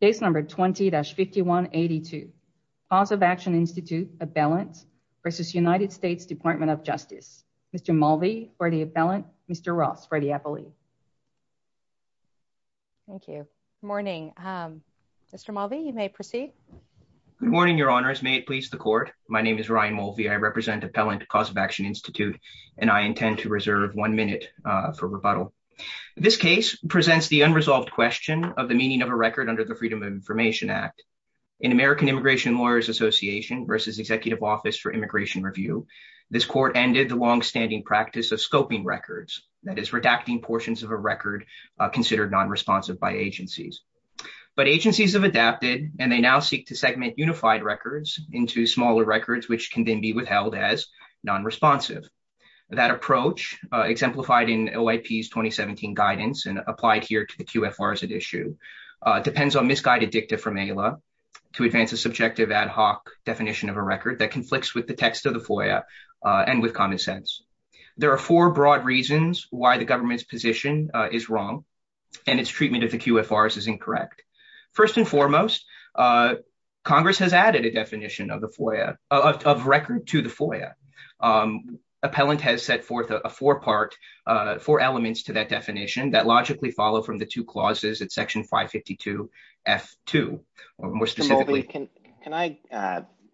Case number 20-5182. Cause of Action Institute, Appellant versus United States Department of Justice. Mr. Mulvey for the appellant. Mr. Ross for the appellee. Thank you. Good morning. Mr. Mulvey, you may proceed. Good morning, your honors. May it please the court. My name is Ryan Mulvey. I represent Appellant Cause of Action Institute and I intend to reserve one minute for rebuttal. This case presents the unresolved question of the meaning of a record under the Freedom of Information Act. In American Immigration Lawyers Association versus Executive Office for Immigration Review, this court ended the longstanding practice of scoping records, that is redacting portions of a record considered non-responsive by agencies. But agencies have adapted and they now seek to segment unified records into smaller records, which can then be withheld as non-responsive. That approach exemplified in OIP's 2017 guidance and applied here to the QFRs at issue, depends on misguided dicta from ALA to advance a subjective ad hoc definition of a record that conflicts with the text of the FOIA and with common sense. There are four broad reasons why the government's position is wrong and its treatment of the QFRs incorrect. First and foremost, Congress has added a definition of the FOIA, of record to the FOIA. Appellant has set forth a four part, four elements to that definition that logically follow from the two clauses at section 552 F2, more specifically. Can I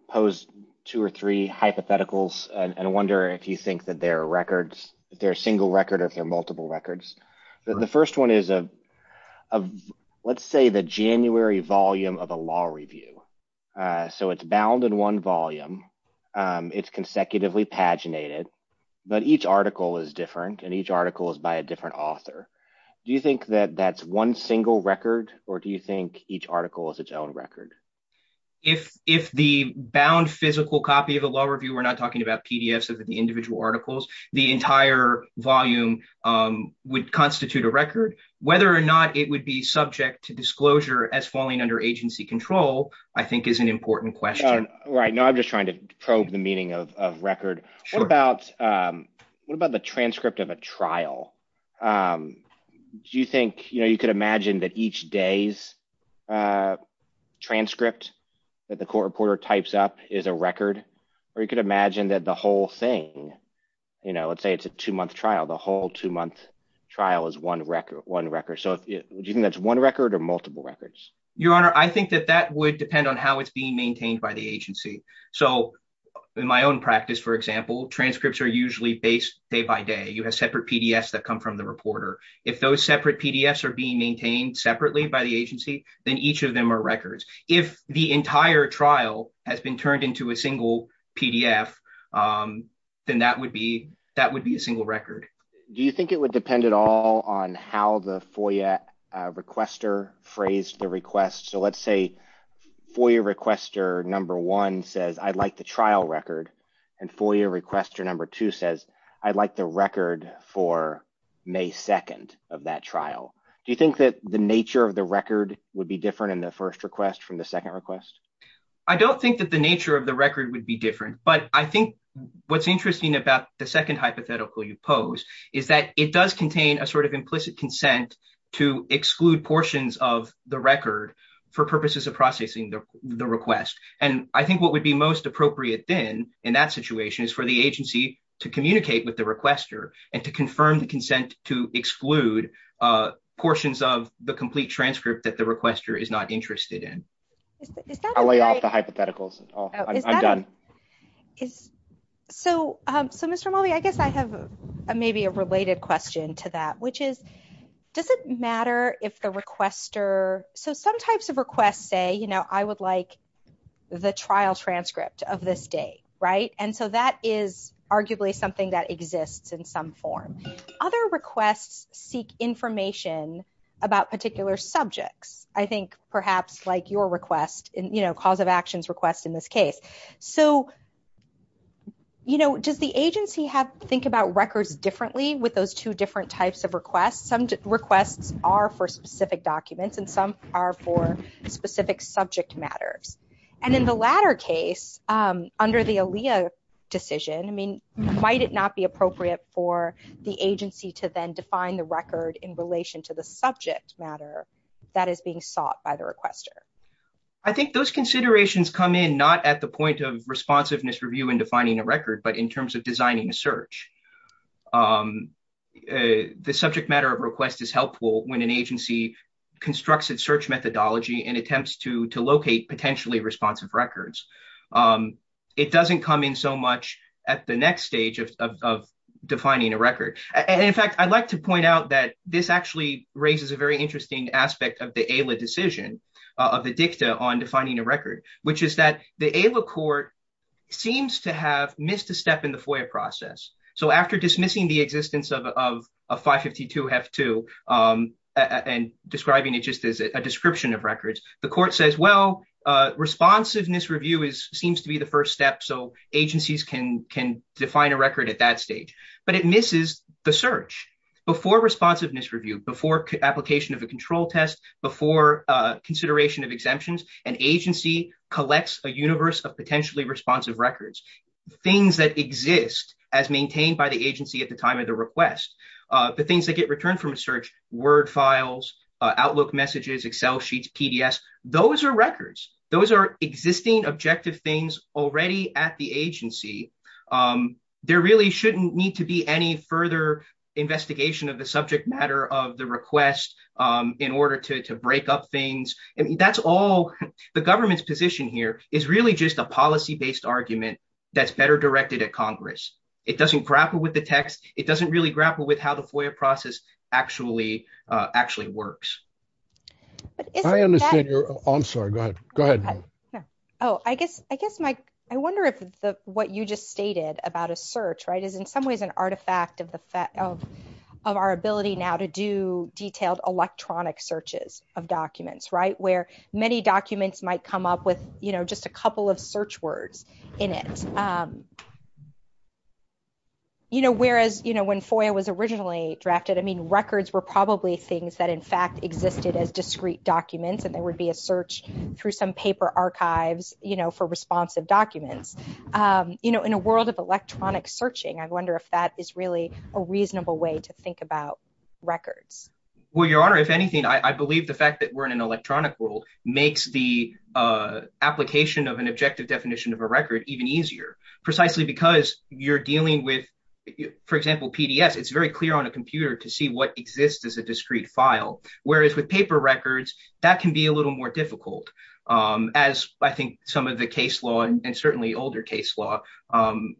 pose two or three hypotheticals and wonder if you think that they're records, if they're a single record or if they're multiple records? The first one is, let's say the January volume of a law review. So it's bound in one volume. It's consecutively paginated, but each article is different and each article is by a different author. Do you think that that's one single record or do you think each article is its own record? If the bound physical copy of a law review, we're not talking about PDFs of the individual articles, the entire volume would constitute a record. Whether or not it would be subject to disclosure as falling under agency control, I think is an important question. Right now, I'm just trying to probe the meaning of record. What about the transcript of a trial? Do you think you could imagine that each day's transcript that the court reporter types up is a record? Or you could imagine that the whole thing, let's say it's a two-month trial, the whole two-month trial is one record. So do you think that's one record or multiple records? Your Honor, I think that that would depend on how it's being maintained by the agency. So in my own practice, for example, transcripts are usually based day by day. You have separate PDFs that come from the reporter. If those separate PDFs are being maintained separately by the agency, then each of them are records. If the entire trial has been turned into a single PDF, then that would be a single record. Do you think it would depend at all on how the FOIA requester phrased the request? So let's say FOIA requester number one says, I'd like the trial record. And FOIA requester number two says, I'd like the record for May 2nd of that trial. Do you think that the nature of the record would be different in the first request from the second request? I don't think that the nature of the record would be different. But I think what's interesting about the second hypothetical you pose is that it does contain a sort of implicit consent to exclude portions of the record for purposes of processing the request. And I think what would be most appropriate then in that situation is for the agency to communicate with the requester and to confirm the consent to exclude portions of the complete transcript that the requester is not interested in. I'll lay off the hypotheticals. I'm done. So Mr. Mulvey, I guess I have maybe a related question to that, which is, does it matter if the requester... So some types of requests say, I would like the trial transcript of this date, right? And so that is arguably something that exists in some form. Other requests seek information about particular subjects, I think perhaps like your request, cause of actions request in this case. So does the agency think about records differently with those two different types of requests? Some are for specific subject matters. And in the latter case, under the ALEA decision, I mean, might it not be appropriate for the agency to then define the record in relation to the subject matter that is being sought by the requester? I think those considerations come in, not at the point of responsiveness review and defining a record, but in terms of designing a search. The subject matter of request is helpful when an agency constructs its search methodology and attempts to locate potentially responsive records. It doesn't come in so much at the next stage of defining a record. And in fact, I'd like to point out that this actually raises a very interesting aspect of the ALEA decision, of the dicta on defining a record, which is that the process. So after dismissing the existence of a 552 F2 and describing it just as a description of records, the court says, well, responsiveness review is, seems to be the first step. So agencies can define a record at that stage, but it misses the search. Before responsiveness review, before application of a control test, before consideration of exemptions, an agency collects a universe of potentially responsive records, things that exist as maintained by the agency at the time of the request. The things that get returned from a search, word files, outlook messages, Excel sheets, PDS, those are records. Those are existing objective things already at the agency. There really shouldn't need to be any further investigation of the subject matter of the really just a policy-based argument that's better directed at Congress. It doesn't grapple with the text. It doesn't really grapple with how the FOIA process actually, actually works. I understand you're, I'm sorry, go ahead. Go ahead. Oh, I guess, I guess my, I wonder if the, what you just stated about a search, right, is in some ways an artifact of the fact of, of our ability now to do detailed electronic searches of documents, right? Where many documents might come up with, you know, just a couple of search words in it. You know, whereas, you know, when FOIA was originally drafted, I mean, records were probably things that, in fact, existed as discrete documents and there would be a search through some paper archives, you know, for responsive documents. You know, in a world of electronic searching, I wonder if that is really a reasonable way to think about records. Well, Your Honor, if anything, I believe the fact that we're in an electronic world makes the application of an objective definition of a record even easier, precisely because you're dealing with, for example, PDS, it's very clear on a computer to see what exists as a discrete file. Whereas with paper records, that can be a little more difficult, as I think some of the case law, and certainly older case law,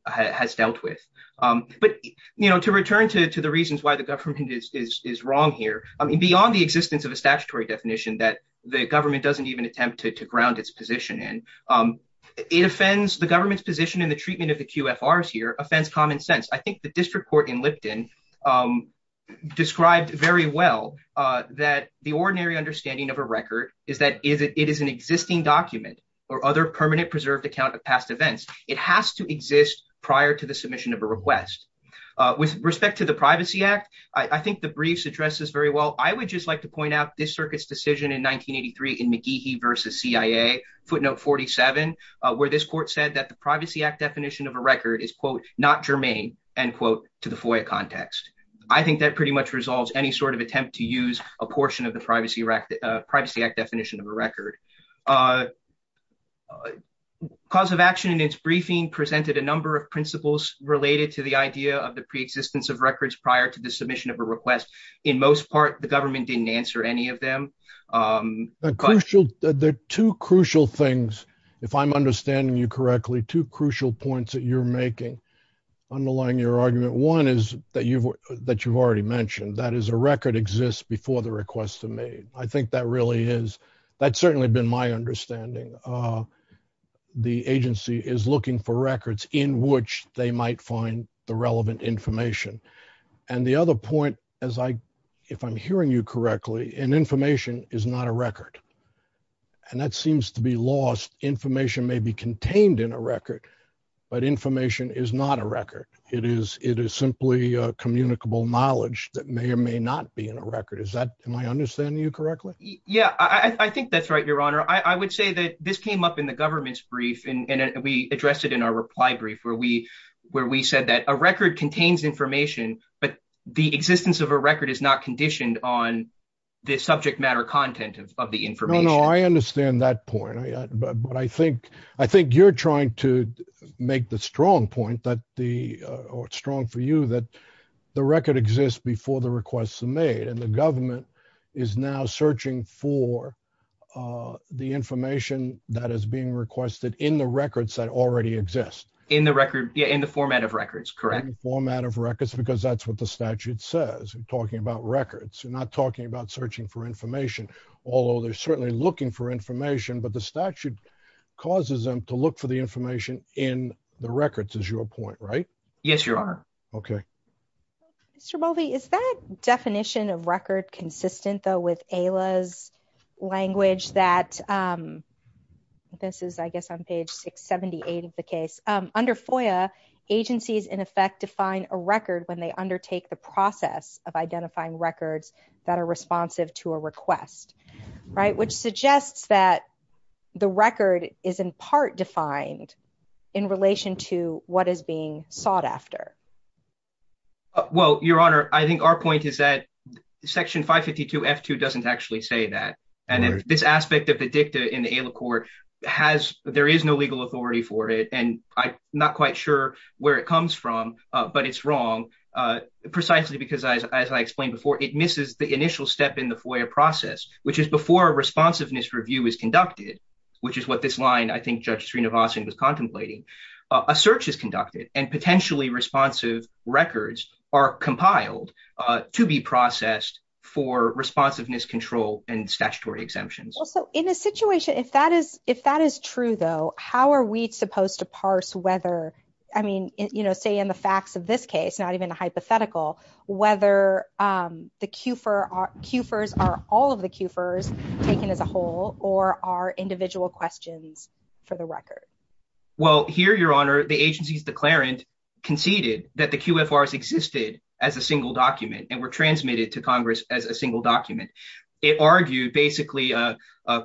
has dealt with. But, you know, to return to the reasons why the government is wrong here, I mean, beyond the existence of a statutory definition that the government doesn't even attempt to ground its position in, it offends, the government's position in the treatment of the QFRs here offends common sense. I think the district court in Lipton described very well that the ordinary understanding of a record is that it is an existing document or other permanent preserved account of past events. It has to exist prior to the submission of a request. With respect to the Privacy Act, I think the briefs address this very well. I would just like to point out this circuit's decision in 1983 in McGehee v. CIA, footnote 47, where this court said that the Privacy Act definition of a record is, quote, not germane, end quote, to the FOIA context. I think that pretty much resolves any sort of attempt to use a portion of the Privacy Act definition of a record. Cause of Action in its briefing presented a number of principles related to the idea of the pre-existence of records prior to the submission of a request. In most part, the government didn't answer any of them. There are two crucial things, if I'm understanding you correctly, two crucial points that you're making underlying your argument. One is that you've already mentioned, that is a record exists before the requests are made. I think that really is, that's certainly been my understanding. The agency is looking for records in which they might find the relevant information. And the other point, as I, if I'm hearing you correctly, an information is not a record. And that seems to be lost. Information may be contained in a record, but information is not a record. It is, it is simply a communicable knowledge that may or may not be in a record. Is that, am I understanding you correctly? Yeah, I think that's right, your honor. I would say that this came up in the government's brief and we addressed it in our reply brief, where we, where we said that a existence of a record is not conditioned on the subject matter content of the information. No, no, I understand that point. But I think, I think you're trying to make the strong point that the, or strong for you, that the record exists before the requests are made. And the government is now searching for the information that is being requested in the records that already exist. In the record, yeah, in the format of records, correct. Format of records, because that's what the statute says. We're talking about records. You're not talking about searching for information, although they're certainly looking for information, but the statute causes them to look for the information in the records is your point, right? Yes, your honor. Okay. Mr. Moldy, is that definition of record consistent though, with AILA's language that this is, I guess on page 678 of the case under FOIA agencies in effect, define a record when they undertake the process of identifying records that are responsive to a request, right? Which suggests that the record is in part defined in relation to what is being sought after. Well, your honor, I think our point is that section 552 F2 doesn't actually say that. And then this aspect of the dicta in the AILA court has, there is no legal authority for it. And I'm not quite sure where it comes from, but it's wrong precisely because as I explained before, it misses the initial step in the FOIA process, which is before a responsiveness review is conducted, which is what this line, I think Judge Sreenivasan was contemplating. A search is conducted and potentially responsive records are compiled to be processed for responsiveness control and statutory exemptions. Well, so in a situation, if that is true though, how are we supposed to parse whether, I mean, you know, say in the facts of this case, not even a hypothetical, whether the QFIRs are all of the QFIRs taken as a whole or are individual questions for the record? Well, here, your honor, the agency's declarant conceded that the QFRs existed as a single document and were transmitted to Congress as a single document. It argued basically a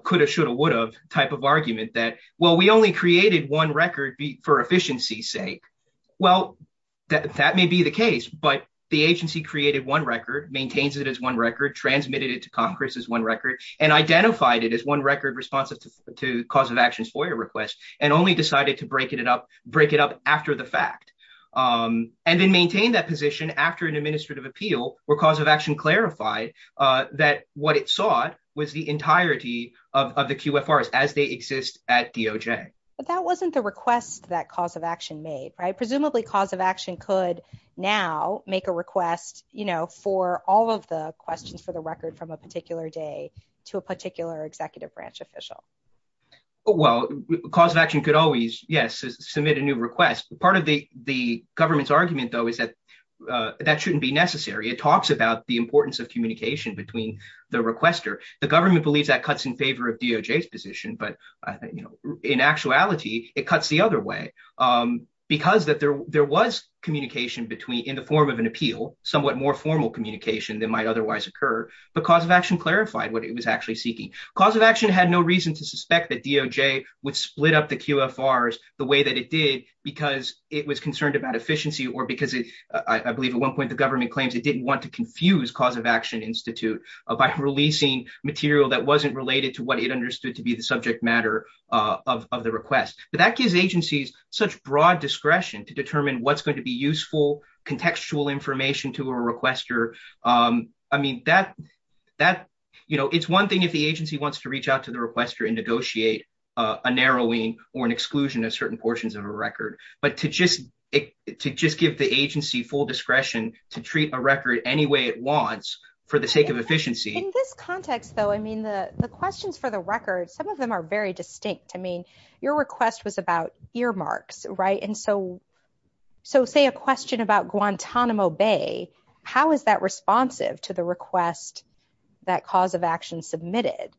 could have, should have, would have type of argument that, well, we only created one record for efficiency sake. Well, that may be the case, but the agency created one record, maintains it as one record, transmitted it to Congress as one record and identified it as one record responsive to cause of actions FOIA request and only decided to break it up after the fact. And then maintain that position after an that what it sought was the entirety of the QFRs as they exist at DOJ. But that wasn't the request that cause of action made, right? Presumably cause of action could now make a request, you know, for all of the questions for the record from a particular day to a particular executive branch official. Well, cause of action could always, yes, submit a new request. Part of the government's argument though is that that shouldn't be between the requester. The government believes that cuts in favor of DOJ's position, but I think, you know, in actuality, it cuts the other way because that there was communication between, in the form of an appeal, somewhat more formal communication than might otherwise occur, but cause of action clarified what it was actually seeking. Cause of action had no reason to suspect that DOJ would split up the QFRs the way that it did because it was concerned about efficiency or because it, I believe at one point the government claims it didn't want to confuse cause of action institute by releasing material that wasn't related to what it understood to be the subject matter of the request. But that gives agencies such broad discretion to determine what's going to be useful contextual information to a requester. I mean, that, you know, it's one thing if the agency wants to reach out to the requester and negotiate a narrowing or an exclusion of certain portions of a record, but to just give the agency full discretion to treat a record any way it wants for the sake of efficiency. In this context though, I mean, the questions for the record, some of them are very distinct. I mean, your request was about earmarks, right? And so, so say a question about Guantanamo Bay, how is that responsive to the request that cause of action submitted?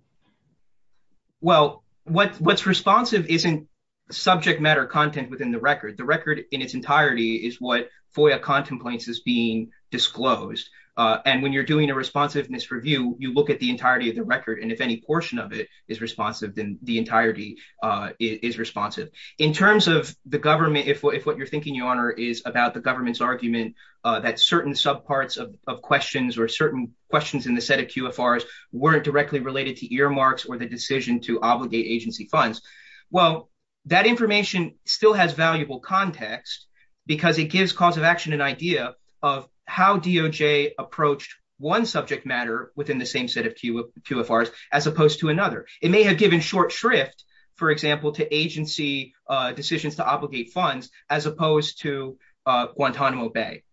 Well, what's responsive isn't subject matter content within the record. The record in its entirety is what FOIA contemplates as being disclosed. And when you're doing a responsiveness review, you look at the entirety of the record and if any portion of it is responsive, then the entirety is responsive. In terms of the government, if what you're thinking your honor is about the government's argument that certain sub parts of questions or certain questions in the set of QFRs weren't directly related to earmarks or the decision to obligate agency funds, well, that information still has valuable context because it gives cause of action an idea of how DOJ approached one subject matter within the same set of QFRs as opposed to another. It may have given short shrift, for example, to agency decisions to obligate funds as opposed to Guantanamo Bay.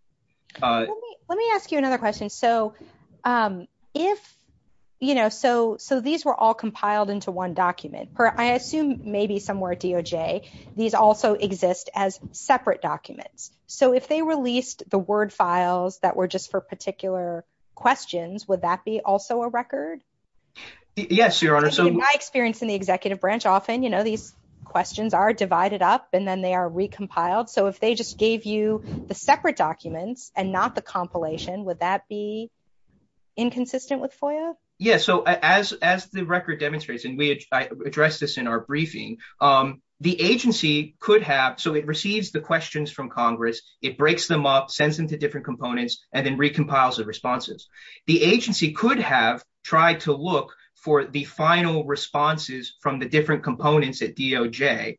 Let me ask you another question. So, if, you know, so these were all compiled into one document per I assume maybe somewhere DOJ, these also exist as separate documents. So, if they released the word files that were just for particular questions, would that be also a record? Yes, your honor. So, in my experience in the executive branch, often, you know, these questions are divided up and then they are recompiled. So, if they just gave you the separate documents and not the compilation, would that be inconsistent with FOIA? Yes. So, as the record demonstrates, and we addressed this in our briefing, the agency could have, so it receives the questions from Congress, it breaks them up, sends them to different components, and then recompiles the responses. The agency could have tried to look for the final responses from the different components at DOJ,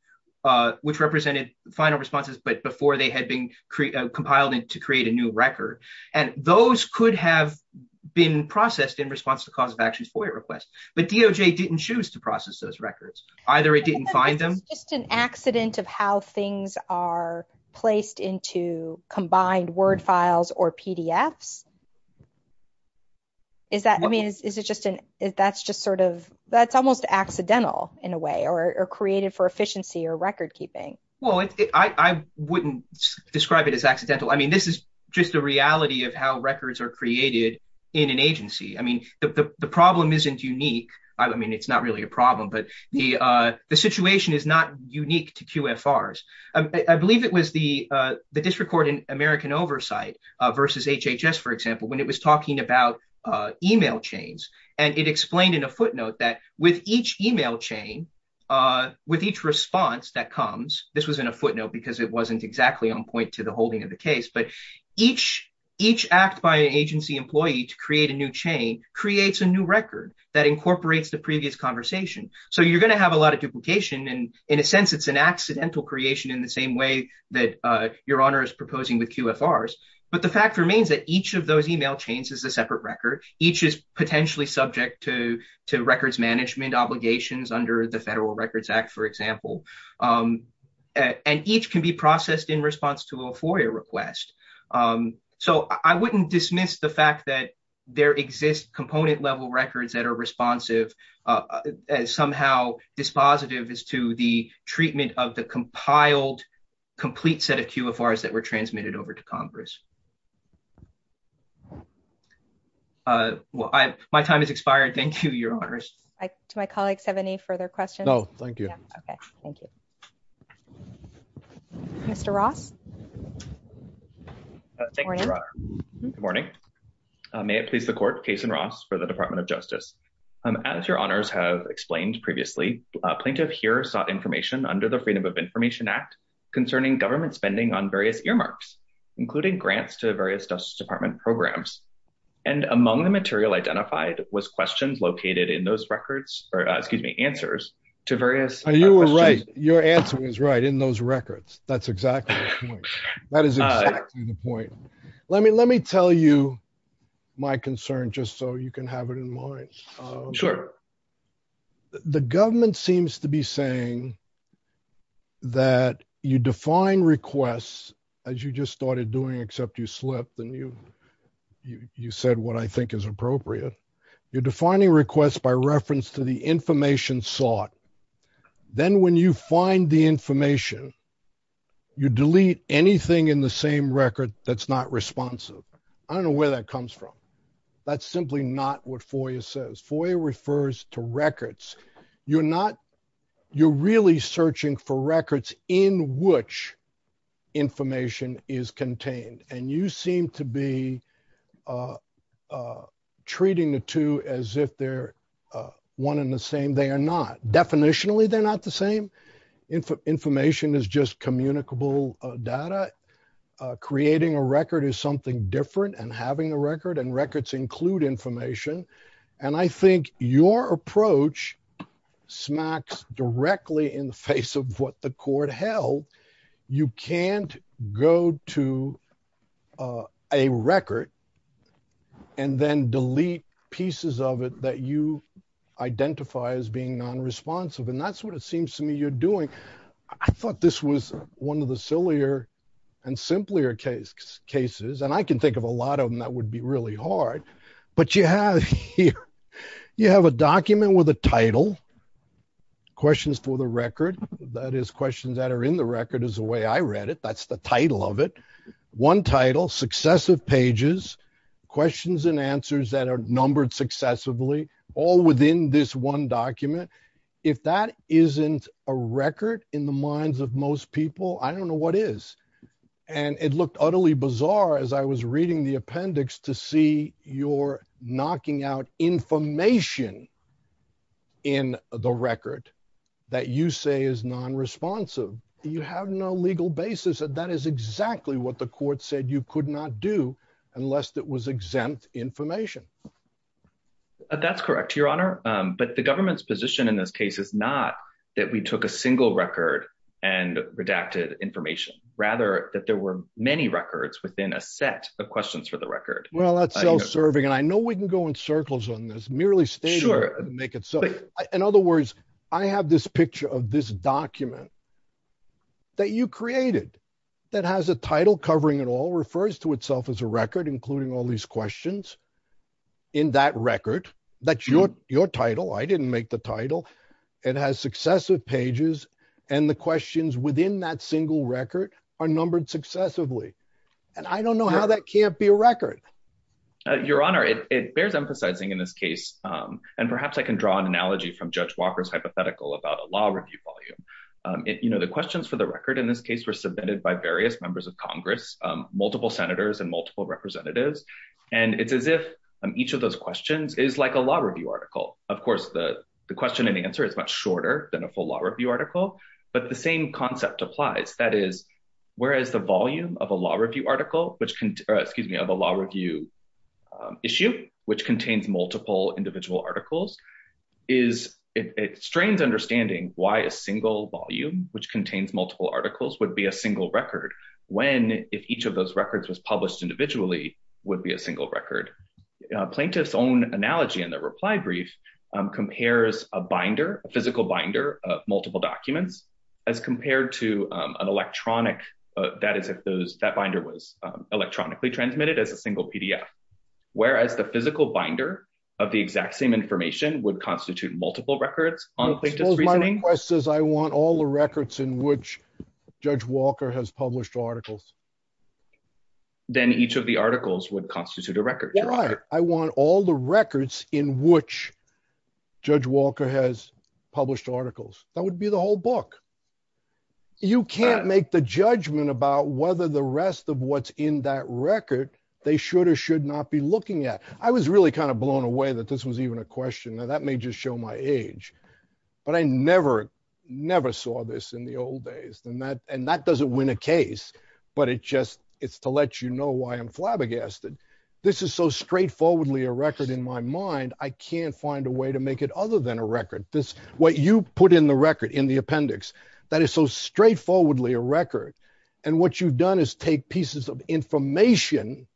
which represented final responses, but before they had been compiled to create a new record. And those could have been processed in response to actions FOIA requests, but DOJ didn't choose to process those records. Either it didn't find them. It's just an accident of how things are placed into combined word files or PDFs. Is that, I mean, is it just an, that's just sort of, that's almost accidental in a way, or created for efficiency or record keeping. Well, I wouldn't describe it as accidental. I mean, this is just the reality of how records are created in an agency. I mean, the problem isn't unique. I mean, it's not really a problem, but the situation is not unique to QFRs. I believe it was the District Court in American Oversight versus HHS, for example, when it was talking about email chains, and it explained in a footnote that with each email chain, with each response that each act by an agency employee to create a new chain, creates a new record that incorporates the previous conversation. So you're going to have a lot of duplication. And in a sense, it's an accidental creation in the same way that Your Honor is proposing with QFRs. But the fact remains that each of those email chains is a separate record. Each is potentially subject to records management obligations under the Federal Records Act, for example. And each can be processed in response to a FOIA request. So I wouldn't dismiss the fact that there exist component-level records that are responsive, somehow dispositive as to the treatment of the compiled, complete set of QFRs that were transmitted over to Congress. My time has expired. Thank you, Your Honors. Do my colleagues have any further questions? No, thank you. Okay, thank you. Mr. Ross? Thank you, Your Honor. Good morning. May it please the Court, Cason Ross for the Department of Justice. As Your Honors have explained previously, a plaintiff here sought information under the Freedom of Information Act concerning government spending on various earmarks, including grants to various Justice Department programs. And among the material identified was questions located in those records, or excuse me, answers to various questions. And you were right. Your answer is right, in those records. That's exactly the point. That is exactly the point. Let me tell you my concern, just so you can have it in mind. Sure. The government seems to be saying that you define requests, as you just started doing, except you slipped and you said what I think is appropriate. You're defining requests by reference to the information sought. Then when you find the information, you delete anything in the same record that's not responsive. I don't know where that comes from. That's simply not what FOIA says. FOIA refers to records. You're really searching for records in which information is contained. And you seem to be treating the two as if they're one and the same. They are not. Definitionally, they're not the same. Information is just communicable data. Creating a record is something different than having a record, and records include information. And I think your approach smacks directly in the face of what the court held. You can't go to a record and then delete pieces of it that you identify as being non-responsive. And that's what it seems to me you're doing. I thought this was one of the sillier and simpler cases. And I can think of a lot of them that would be really hard. But you have here, you have a document with a title, questions for the record. That is questions that are in the record is the way I read it. That's the title of it. One title, successive pages, questions and answers that are numbered successively, all within this one document. If that isn't a record in the minds of most people, I don't know what is. And it looked utterly bizarre as I was reading the appendix to see you're knocking out information in the record that you say is non-responsive. You have no legal basis that that is exactly what the court said you could not do unless it was exempt information. That's correct, your honor. But the government's position in this case is not that we took a single record and redacted information, rather that there were many records within a set of questions for the record. Well, that's self-serving. And I know we can go in circles on this, merely stating it to make it so. In other words, I have this picture of this that you created that has a title covering it all, refers to itself as a record, including all these questions in that record. That's your title. I didn't make the title. It has successive pages and the questions within that single record are numbered successively. And I don't know how that can't be a record. Your honor, it bears emphasizing in this case, and perhaps I can draw an analogy from Judge Walker's hypothetical about a law review volume. The questions for the record in this case were submitted by various members of Congress, multiple senators and multiple representatives. And it's as if each of those questions is like a law review article. Of course, the question and answer is much shorter than a full law review article, but the same concept applies. That is, whereas the volume of a law review issue, which contains multiple individual articles, it strains understanding why a single volume, which contains multiple articles, would be a single record. When, if each of those records was published individually, would be a single record. Plaintiff's own analogy in the reply brief compares a binder, a physical binder of multiple documents, as compared to an electronic, that is, if that binder was electronically transmitted as a single PDF. Whereas the physical binder of the exact same information would constitute multiple records on plaintiff's reasoning. My request is I want all the records in which Judge Walker has published articles. Then each of the articles would constitute a record. Right. I want all the records in which Judge Walker has published articles. That would be the whole book. You can't make the judgment about whether the rest of what's in that record, they should or should not be looking at. I was really kind of blown away that this was even a question that may just show my age, but I never, never saw this in the old days than that. And that doesn't win a case, but it just, it's to let you know why I'm flabbergasted. This is so straightforwardly in my mind. I can't find a way to make it other than a record. This, what you put in the record in the appendix, that is so straightforwardly a record. And what you've done is take pieces of information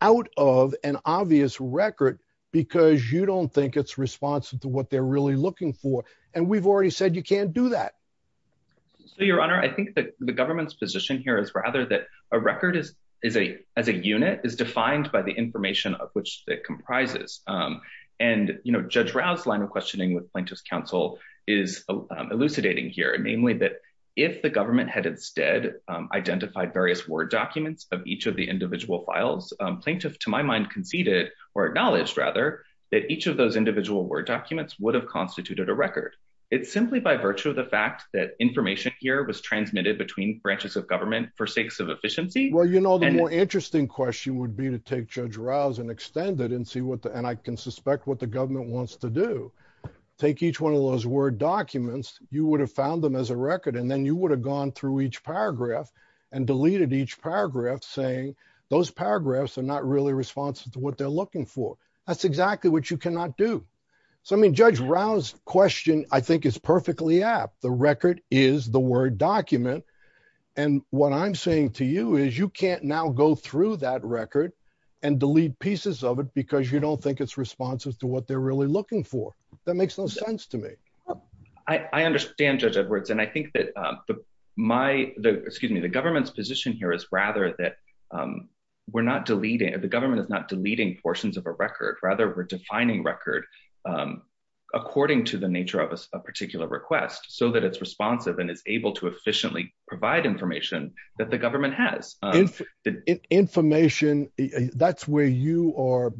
out of an obvious record because you don't think it's responsive to what they're really looking for. And we've already said, you can't do that. So your honor, I think that the government's position here is rather that a record is, is a, as a unit is defined by the document that it comprises. And, you know, Judge Rouse line of questioning with plaintiff's counsel is elucidating here, namely that if the government had instead identified various word documents of each of the individual files, plaintiff to my mind conceded or acknowledged rather that each of those individual word documents would have constituted a record. It's simply by virtue of the fact that information here was transmitted between branches of government for sakes of efficiency. Well, you know, the more interesting question would be to take Judge Rouse and extend it and see what the, and I can suspect what the government wants to do. Take each one of those word documents. You would have found them as a record. And then you would have gone through each paragraph and deleted each paragraph saying those paragraphs are not really responsive to what they're looking for. That's exactly what you cannot do. So, I mean, Judge Rouse question, I think is perfectly apt. The record is the word document. And what I'm saying to you is you can't now go through that record and delete pieces of it because you don't think it's responsive to what they're really looking for. That makes no sense to me. I understand Judge Edwards. And I think that my, excuse me, the government's position here is rather that we're not deleting, the government is not deleting portions of a record rather we're defining record according to the nature of a particular request so that it's responsive and able to efficiently provide information that the government has. Information, that's where you are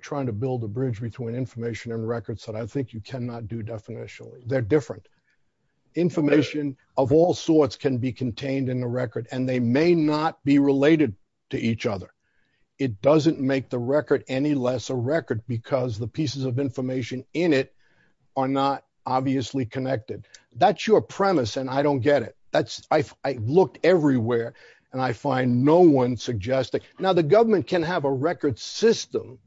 trying to build a bridge between information and records that I think you cannot do definitionally. They're different. Information of all sorts can be contained in the record and they may not be related to each other. It doesn't make the record any less a record because the pieces of information in it are not obviously connected. That's your premise and I don't get it. I've looked everywhere and I find no one suggesting. Now the government can have a record system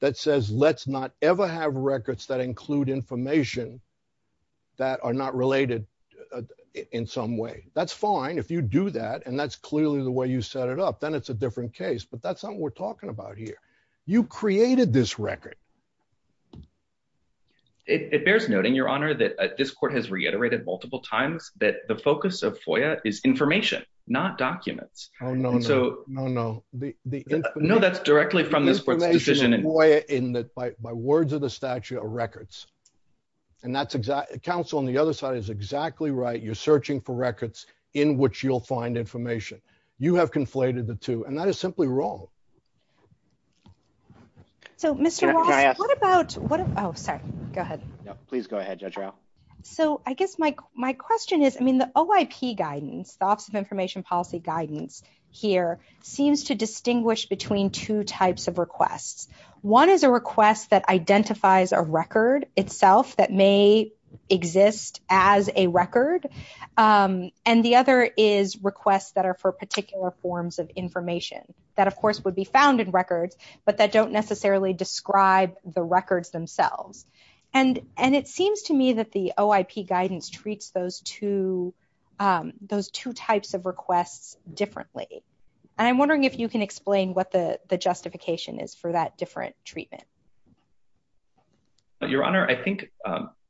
that says let's not ever have records that include information that are not related in some way. That's fine if you do that and that's clearly the way you set it up, then it's a different case. But that's not what we're talking about here. You created this record. It bears noting, your honor, that this court has reiterated multiple times that the focus of FOIA is information, not documents. No, that's directly from this court's decision. By words of the statute are records and counsel on the other side is exactly right. You're searching for records in which you'll find information. You have conflated the two and that is simply wrong. So, Mr. Ross, what about, oh, sorry, go ahead. Please go ahead, Judge Rowe. So, I guess my question is, I mean, the OIP guidance, the Office of Information Policy guidance here seems to distinguish between two types of requests. One is a request that identifies a record itself that may exist as a record and the other is requests that are for forms of information that, of course, would be found in records, but that don't necessarily describe the records themselves. And it seems to me that the OIP guidance treats those two types of requests differently. And I'm wondering if you can explain what the justification is for that different treatment. Your honor, I think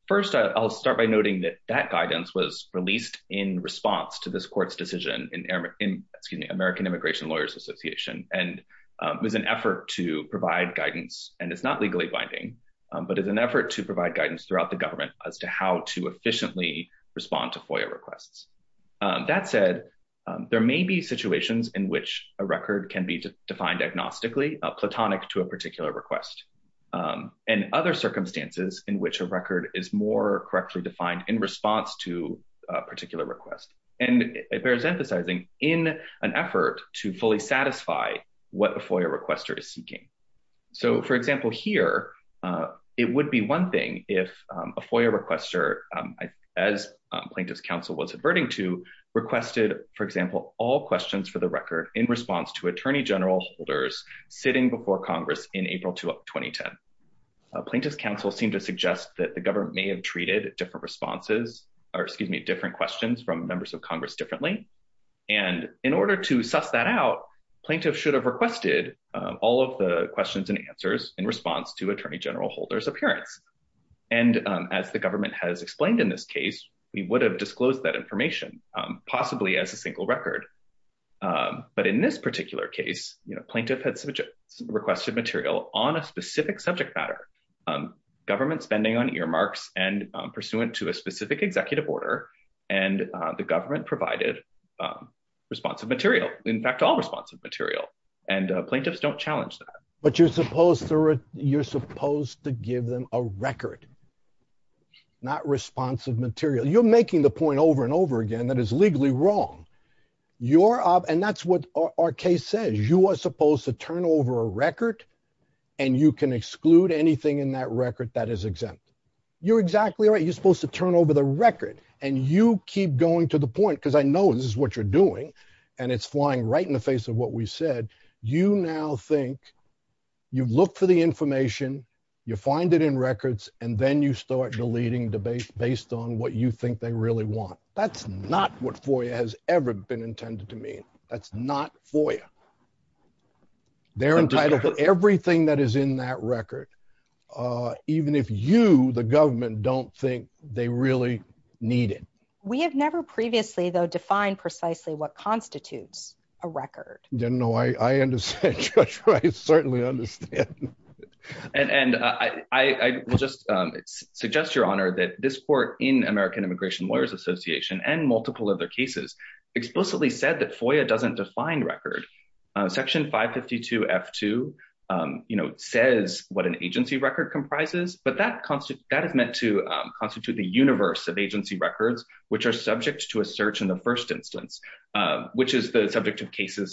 first I'll start by noting that that guidance was released in response to this court's decision in, excuse me, American Immigration Lawyers Association. And it was an effort to provide guidance and it's not legally binding, but it's an effort to provide guidance throughout the government as to how to efficiently respond to FOIA requests. That said, there may be situations in which a record can be defined agnostically platonic to a particular request and other circumstances in which a record is more correctly defined in response to a particular request. And it bears emphasizing in an effort to fully satisfy what a FOIA requester is seeking. So, for example, here, it would be one thing if a FOIA requester, as plaintiff's counsel was adverting to, requested, for example, all questions for the record in response to attorney general holders sitting before Congress in April 2010. Plaintiff's counsel seemed to suggest that the government may have treated different responses, or excuse me, different questions from members of Congress differently. And in order to suss that out, plaintiff should have requested all of the questions and answers in response to attorney general holder's appearance. And as the government has explained in this case, we would have disclosed that information possibly as a single record. But in this particular case, you know, plaintiff had requested material on a specific subject matter, government spending on earmarks and pursuant to a specific executive order, and the government provided responsive material. In fact, all responsive material. And plaintiffs don't challenge that. But you're supposed to, you're supposed to give them a record, not responsive material. You're making the point over and over again that is legally wrong. You're, and that's what our case says. You are supposed to turn over a record, and you can exclude anything in that record that is exempt. You're exactly right. You're supposed to turn over the record. And you keep going to the point, because I know this is what you're doing, and it's flying right in the face of what we said. You now think, you look for the information, you find it in records, and then you start deleting based on what you think they really want. That's not what FOIA has ever been intended to mean. That's not FOIA. They're entitled to everything that is in that record, even if you, the government, don't think they really need it. We have never previously, though, defined precisely what constitutes a record. Then no, I understand. I certainly understand. And I will just suggest, Your Honor, that this court in American Immigration Lawyers Association and multiple other cases explicitly said that FOIA doesn't define record. Section 552 F2, you know, says what an agency record comprises, but that has meant to constitute the universe of agency records, which are subject to a search in the first instance, which is the subject of Freedom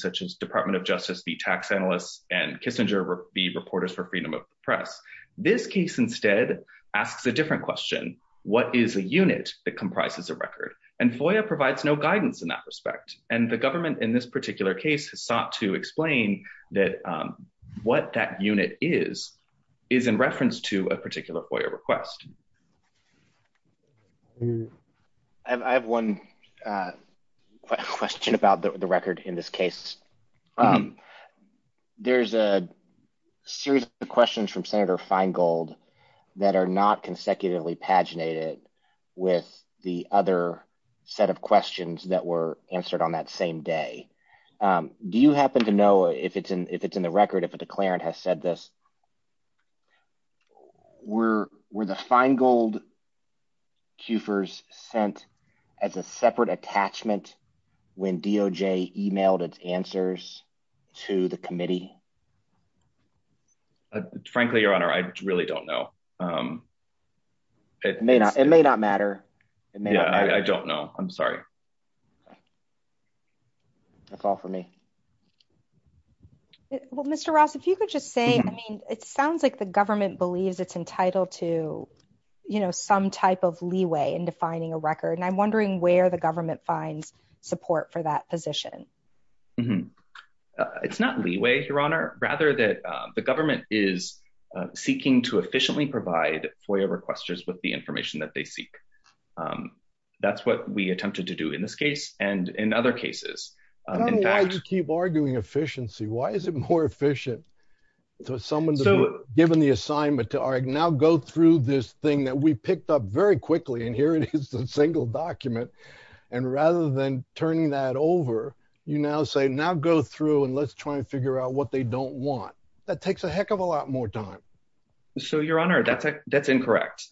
of the Press. This case instead asks a different question. What is a unit that comprises a record? And FOIA provides no guidance in that respect. And the government in this particular case has sought to explain that what that unit is, is in reference to a particular FOIA request. I have one question about the record in this case. There's a series of questions from Senator Feingold that are not consecutively paginated with the other set of questions that were answered on that same day. Do you happen to know if it's in the record, if a declarant has said this? Were the Feingold Kufors sent as a separate attachment when DOJ emailed its answers to the committee? Frankly, Your Honor, I really don't know. It may not matter. Yeah, I don't know. I'm sorry. That's all for me. Well, Mr. Ross, if you could just say, I mean, it sounds like the government believes it's entitled to, you know, some type of leeway in defining a record. And I'm wondering where the government finds support for that position. It's not leeway, Your Honor, rather that the government is seeking to efficiently provide FOIA requesters with the information that they seek. That's what we attempted to do in this case and in other cases. I don't know why you keep arguing efficiency. Why is it more efficient for someone to be given the assignment to, all right, now go through this thing that we picked up very quickly, and here it is, the single document. And rather than turning that over, you now say, now go through and let's try and figure out what they don't want. That takes a heck of a lot more time. So, Your Honor, that's incorrect.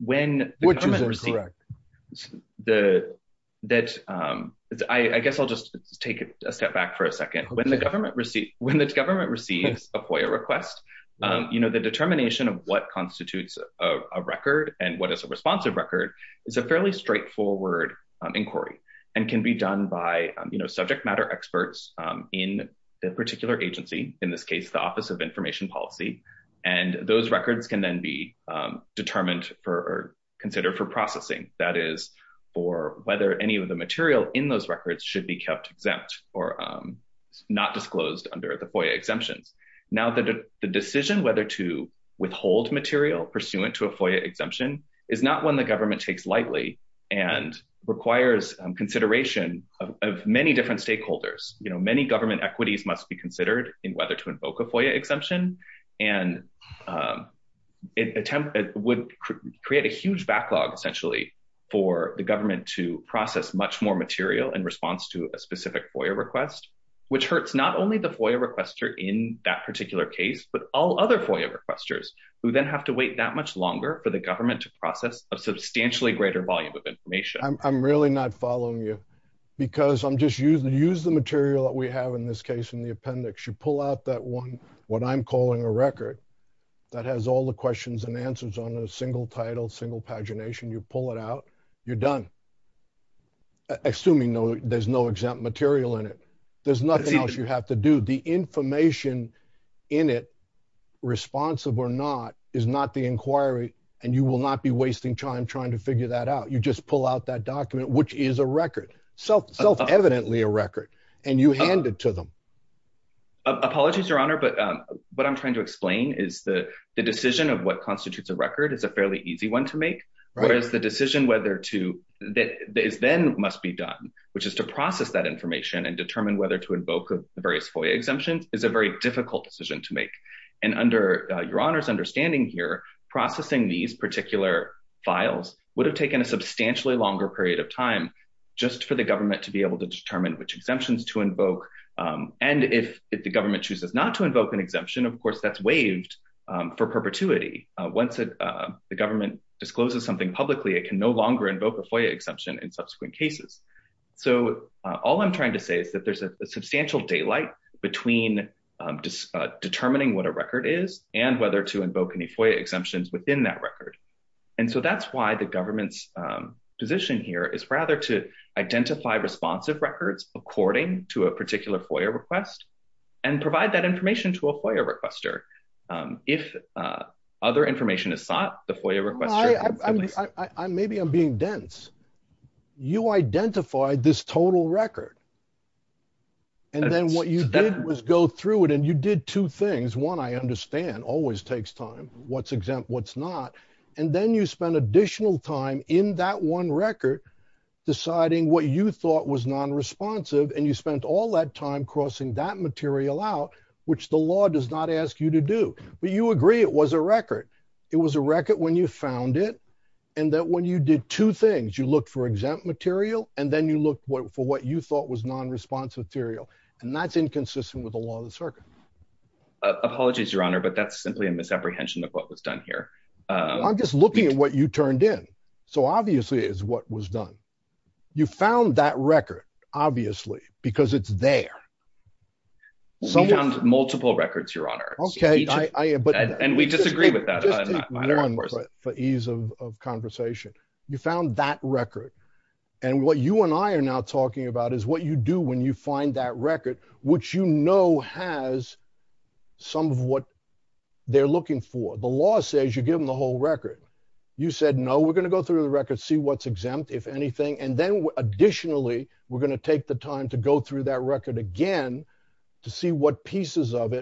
Which is incorrect? I guess I'll just take a step back for a second. When the government receives a FOIA request, you know, the determination of what constitutes a record and what is a responsive record is a fairly straightforward inquiry and can be done by, you know, subject matter experts in the particular agency, in this case, the Office of Information Policy. And those records can then be determined for or considered for processing, that is, for whether any of the material in those records should be kept exempt or not disclosed under the FOIA exemptions. Now, the decision whether to withhold material pursuant to a FOIA exemption is not one the government takes lightly and requires consideration of many different stakeholders. You know, many government equities must be considered in whether to invoke a FOIA exemption and it would create a huge backlog essentially for the government to process much more material in response to a specific FOIA request, which hurts not only the FOIA requester in that particular case, but all other FOIA requesters, who then have to wait that much longer for the government to process a substantially greater volume of information. I'm really not following you because I'm just using, use the material that we have in this case in the appendix, you pull out that one, what I'm calling a record that has all the questions and answers on a single title, single pagination, you pull it out, you're done. Assuming no, there's no exempt material in it. There's nothing else you have to do. The information in it, responsive or not, is not the inquiry and you will not be wasting time trying to figure that out. You just pull out that document, which is a record, self-evidently a record, and you hand it to them. Apologies, Your Honor, but what I'm trying to explain is the decision of what constitutes a record is a fairly easy one to make, whereas the decision whether to, that is then must be done, which is to process that information and determine whether to invoke the various FOIA exemptions is a very difficult decision to make. And under Your Honor's understanding here, processing these particular files would have taken a substantially longer period of time just for the government to be able to determine which exemptions to invoke. And if the government chooses not to invoke an exemption, of course, that's waived for perpetuity. Once the government discloses something publicly, it can no longer invoke a FOIA exemption in subsequent cases. So all I'm trying to say is that there's a substantial daylight between determining what a record is and whether to invoke any FOIA exemptions within that record. And so that's why the government's position here is rather to identify responsive records according to a particular FOIA request and provide that information to a FOIA requester. If other information is sought, the FOIA requester- Maybe I'm being dense. You identified this total record. And then what you did was go through it, and you did two things. One, I understand, always takes time, what's exempt, what's not. And then you spent additional time in that one record deciding what you thought was non-responsive, and you spent all that time crossing that material out, which the law does not ask you to do. But you agree it was a record. It was a record when you did two things. You looked for exempt material, and then you looked for what you thought was non-responsive material. And that's inconsistent with the law of the circuit. Apologies, Your Honor, but that's simply a misapprehension of what was done here. I'm just looking at what you turned in. So obviously it's what was done. You found that record, obviously, because it's there. We found multiple records, Your Honor. And we disagree with that. I'm just taking your word for it for ease of conversation. You found that record. And what you and I are now talking about is what you do when you find that record, which you know has some of what they're looking for. The law says you give them the whole record. You said, no, we're going to go through the record, see what's exempt, if anything. And then additionally, we're going to take the time to go through that record again to see what pieces of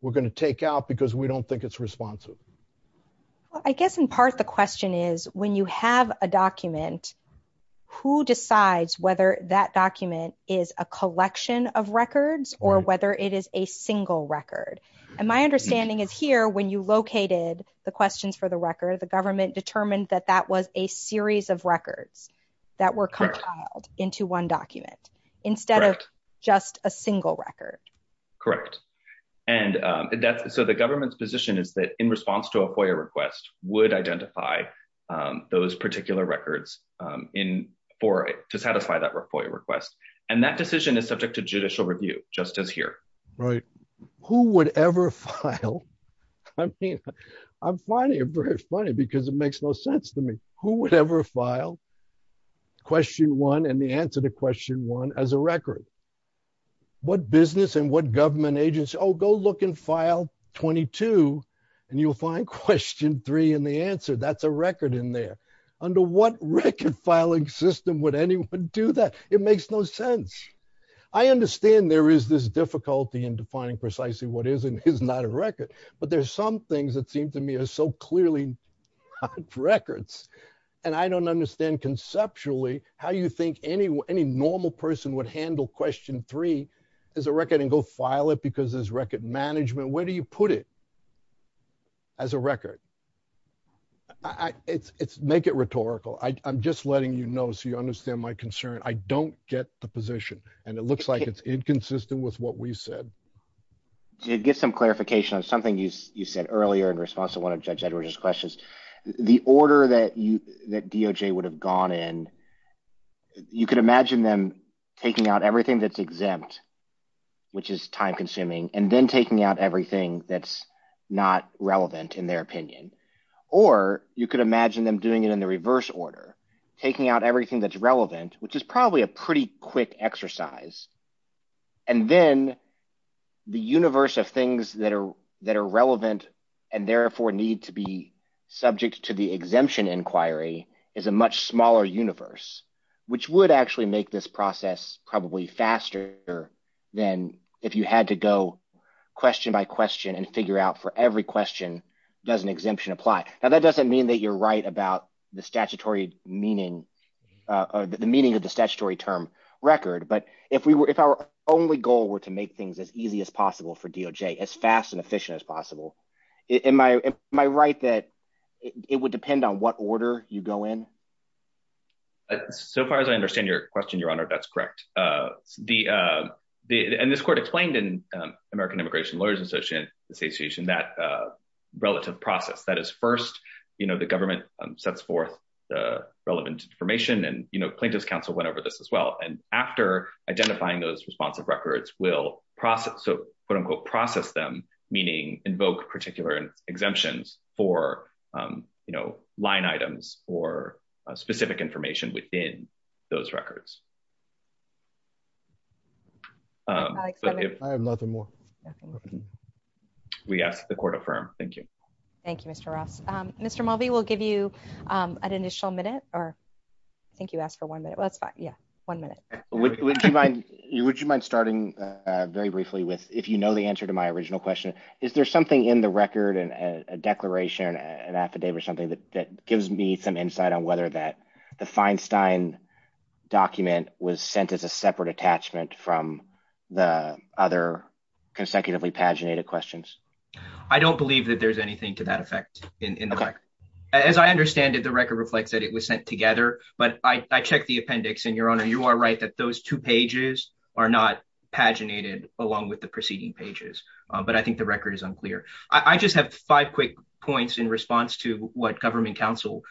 we're going to take out because we don't think it's responsive. Well, I guess in part the question is, when you have a document, who decides whether that document is a collection of records or whether it is a single record? And my understanding is here, when you located the questions for the record, the government determined that that was a series of records that were compiled into one document instead of just a single record. Correct. And so the government's position is that in response to a FOIA request, would identify those particular records to satisfy that FOIA request. And that decision is subject to judicial review, just as here. Right. Who would ever file? I mean, I'm finding it very funny because it makes no sense to me. Who would ever file question one and the answer to question one as a record? What business and what government agency? Oh, go look and file 22 and you'll find question three in the answer. That's a record in there. Under what record filing system would anyone do that? It makes no sense. I understand there is this difficulty in defining precisely what is and is not a record, but there's some things that seem to me are so clearly not records. And I don't understand conceptually how you think anyone, any normal person would handle question three as a record and go file it because there's record management. Where do you put it? As a record. It's make it rhetorical. I'm just letting you know, so you understand my concern. I don't get the position and it looks like it's inconsistent with what we said. To get some clarification on something you said earlier in response to Judge Edwards's questions, the order that you that DOJ would have gone in, you could imagine them taking out everything that's exempt, which is time consuming, and then taking out everything that's not relevant in their opinion. Or you could imagine them doing it in the reverse order, taking out everything that's relevant, which is probably a pretty exercise. And then the universe of things that are relevant and therefore need to be subject to the exemption inquiry is a much smaller universe, which would actually make this process probably faster than if you had to go question by question and figure out for every question, does an exemption apply? Now, that doesn't mean that you're right about the statutory meaning, or the meaning of the statutory term record. But if our only goal were to make things as easy as possible for DOJ, as fast and efficient as possible, am I right that it would depend on what order you go in? So far as I understand your question, Your Honor, that's correct. And this court explained in American Immigration Lawyers Association that relative process, that is first, the government sets forth the relevant information and plaintiff's counsel went over this as well. And after identifying those responsive records, we'll process them, meaning invoke particular exemptions for line items or specific information within those records. I have nothing more. We ask the court affirm. Thank you. Thank you, Mr. Ross. Mr. Mulvey, we'll give you an initial minute, or I think you asked for one minute. Well, that's fine. Yeah, one minute. Would you mind starting very briefly with, if you know the answer to my original question, is there something in the record and a declaration, an affidavit or something that gives me some insight on whether that the Feinstein document was sent as a separate attachment from the other consecutively paginated questions? I don't believe that there's anything to that effect in the record. As I understand it, the record reflects that it was sent together, but I checked the appendix and Your Honor, you are right that those two pages are not paginated along with the preceding pages. But I think the record is unclear. I just have five quick points in response to what government counsel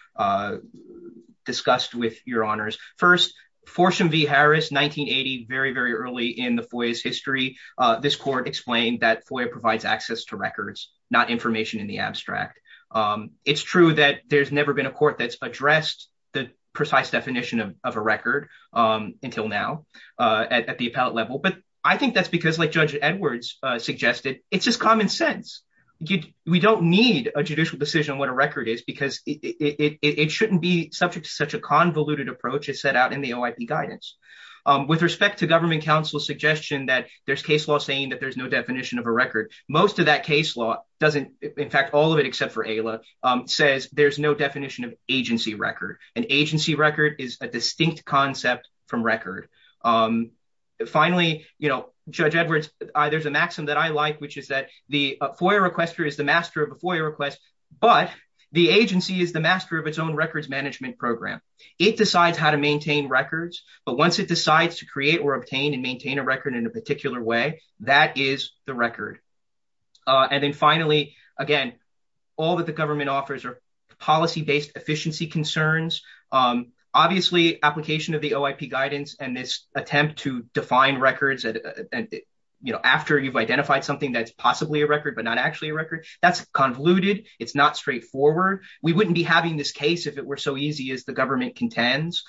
discussed with Your Honors. First, Fortune v. Harris, 1980, very, very early in the FOIA's to records, not information in the abstract. It's true that there's never been a court that's addressed the precise definition of a record until now at the appellate level. But I think that's because, like Judge Edwards suggested, it's just common sense. We don't need a judicial decision on what a record is because it shouldn't be subject to such a convoluted approach as set out in the OIP guidance. With respect to government counsel's suggestion that there's no definition of a record, most of that case law doesn't, in fact, all of it except for AILA, says there's no definition of agency record. An agency record is a distinct concept from record. Finally, Judge Edwards, there's a maxim that I like, which is that the FOIA requester is the master of a FOIA request, but the agency is the master of its own records management program. It decides how to maintain records, but once it decides to create or obtain and maintain a record in a particular way, that is the record. Then finally, again, all that the government offers are policy-based efficiency concerns. Obviously, application of the OIP guidance and this attempt to define records after you've identified something that's possibly a record but not actually a record, that's convoluted. It's not straightforward. We wouldn't be having this case if it were so easy as the government contends.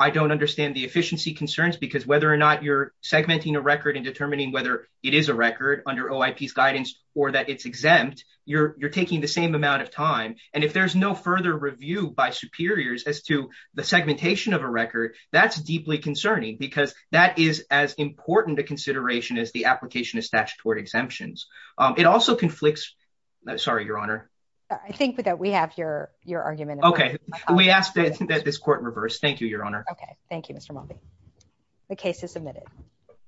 I don't understand the efficiency concerns because whether or not you're segmenting a record and determining whether it is a record under OIP's guidance or that it's exempt, you're taking the same amount of time. If there's no further review by superiors as to the segmentation of a record, that's deeply concerning because that is as important a consideration as the application of statutory exemptions. It also conflicts... Sorry, Your Honor. I think that we have your argument. Okay. We ask that this court reverse. Thank you, Your Honor. Okay. Thank you, Mr. Mulvey. The case is submitted.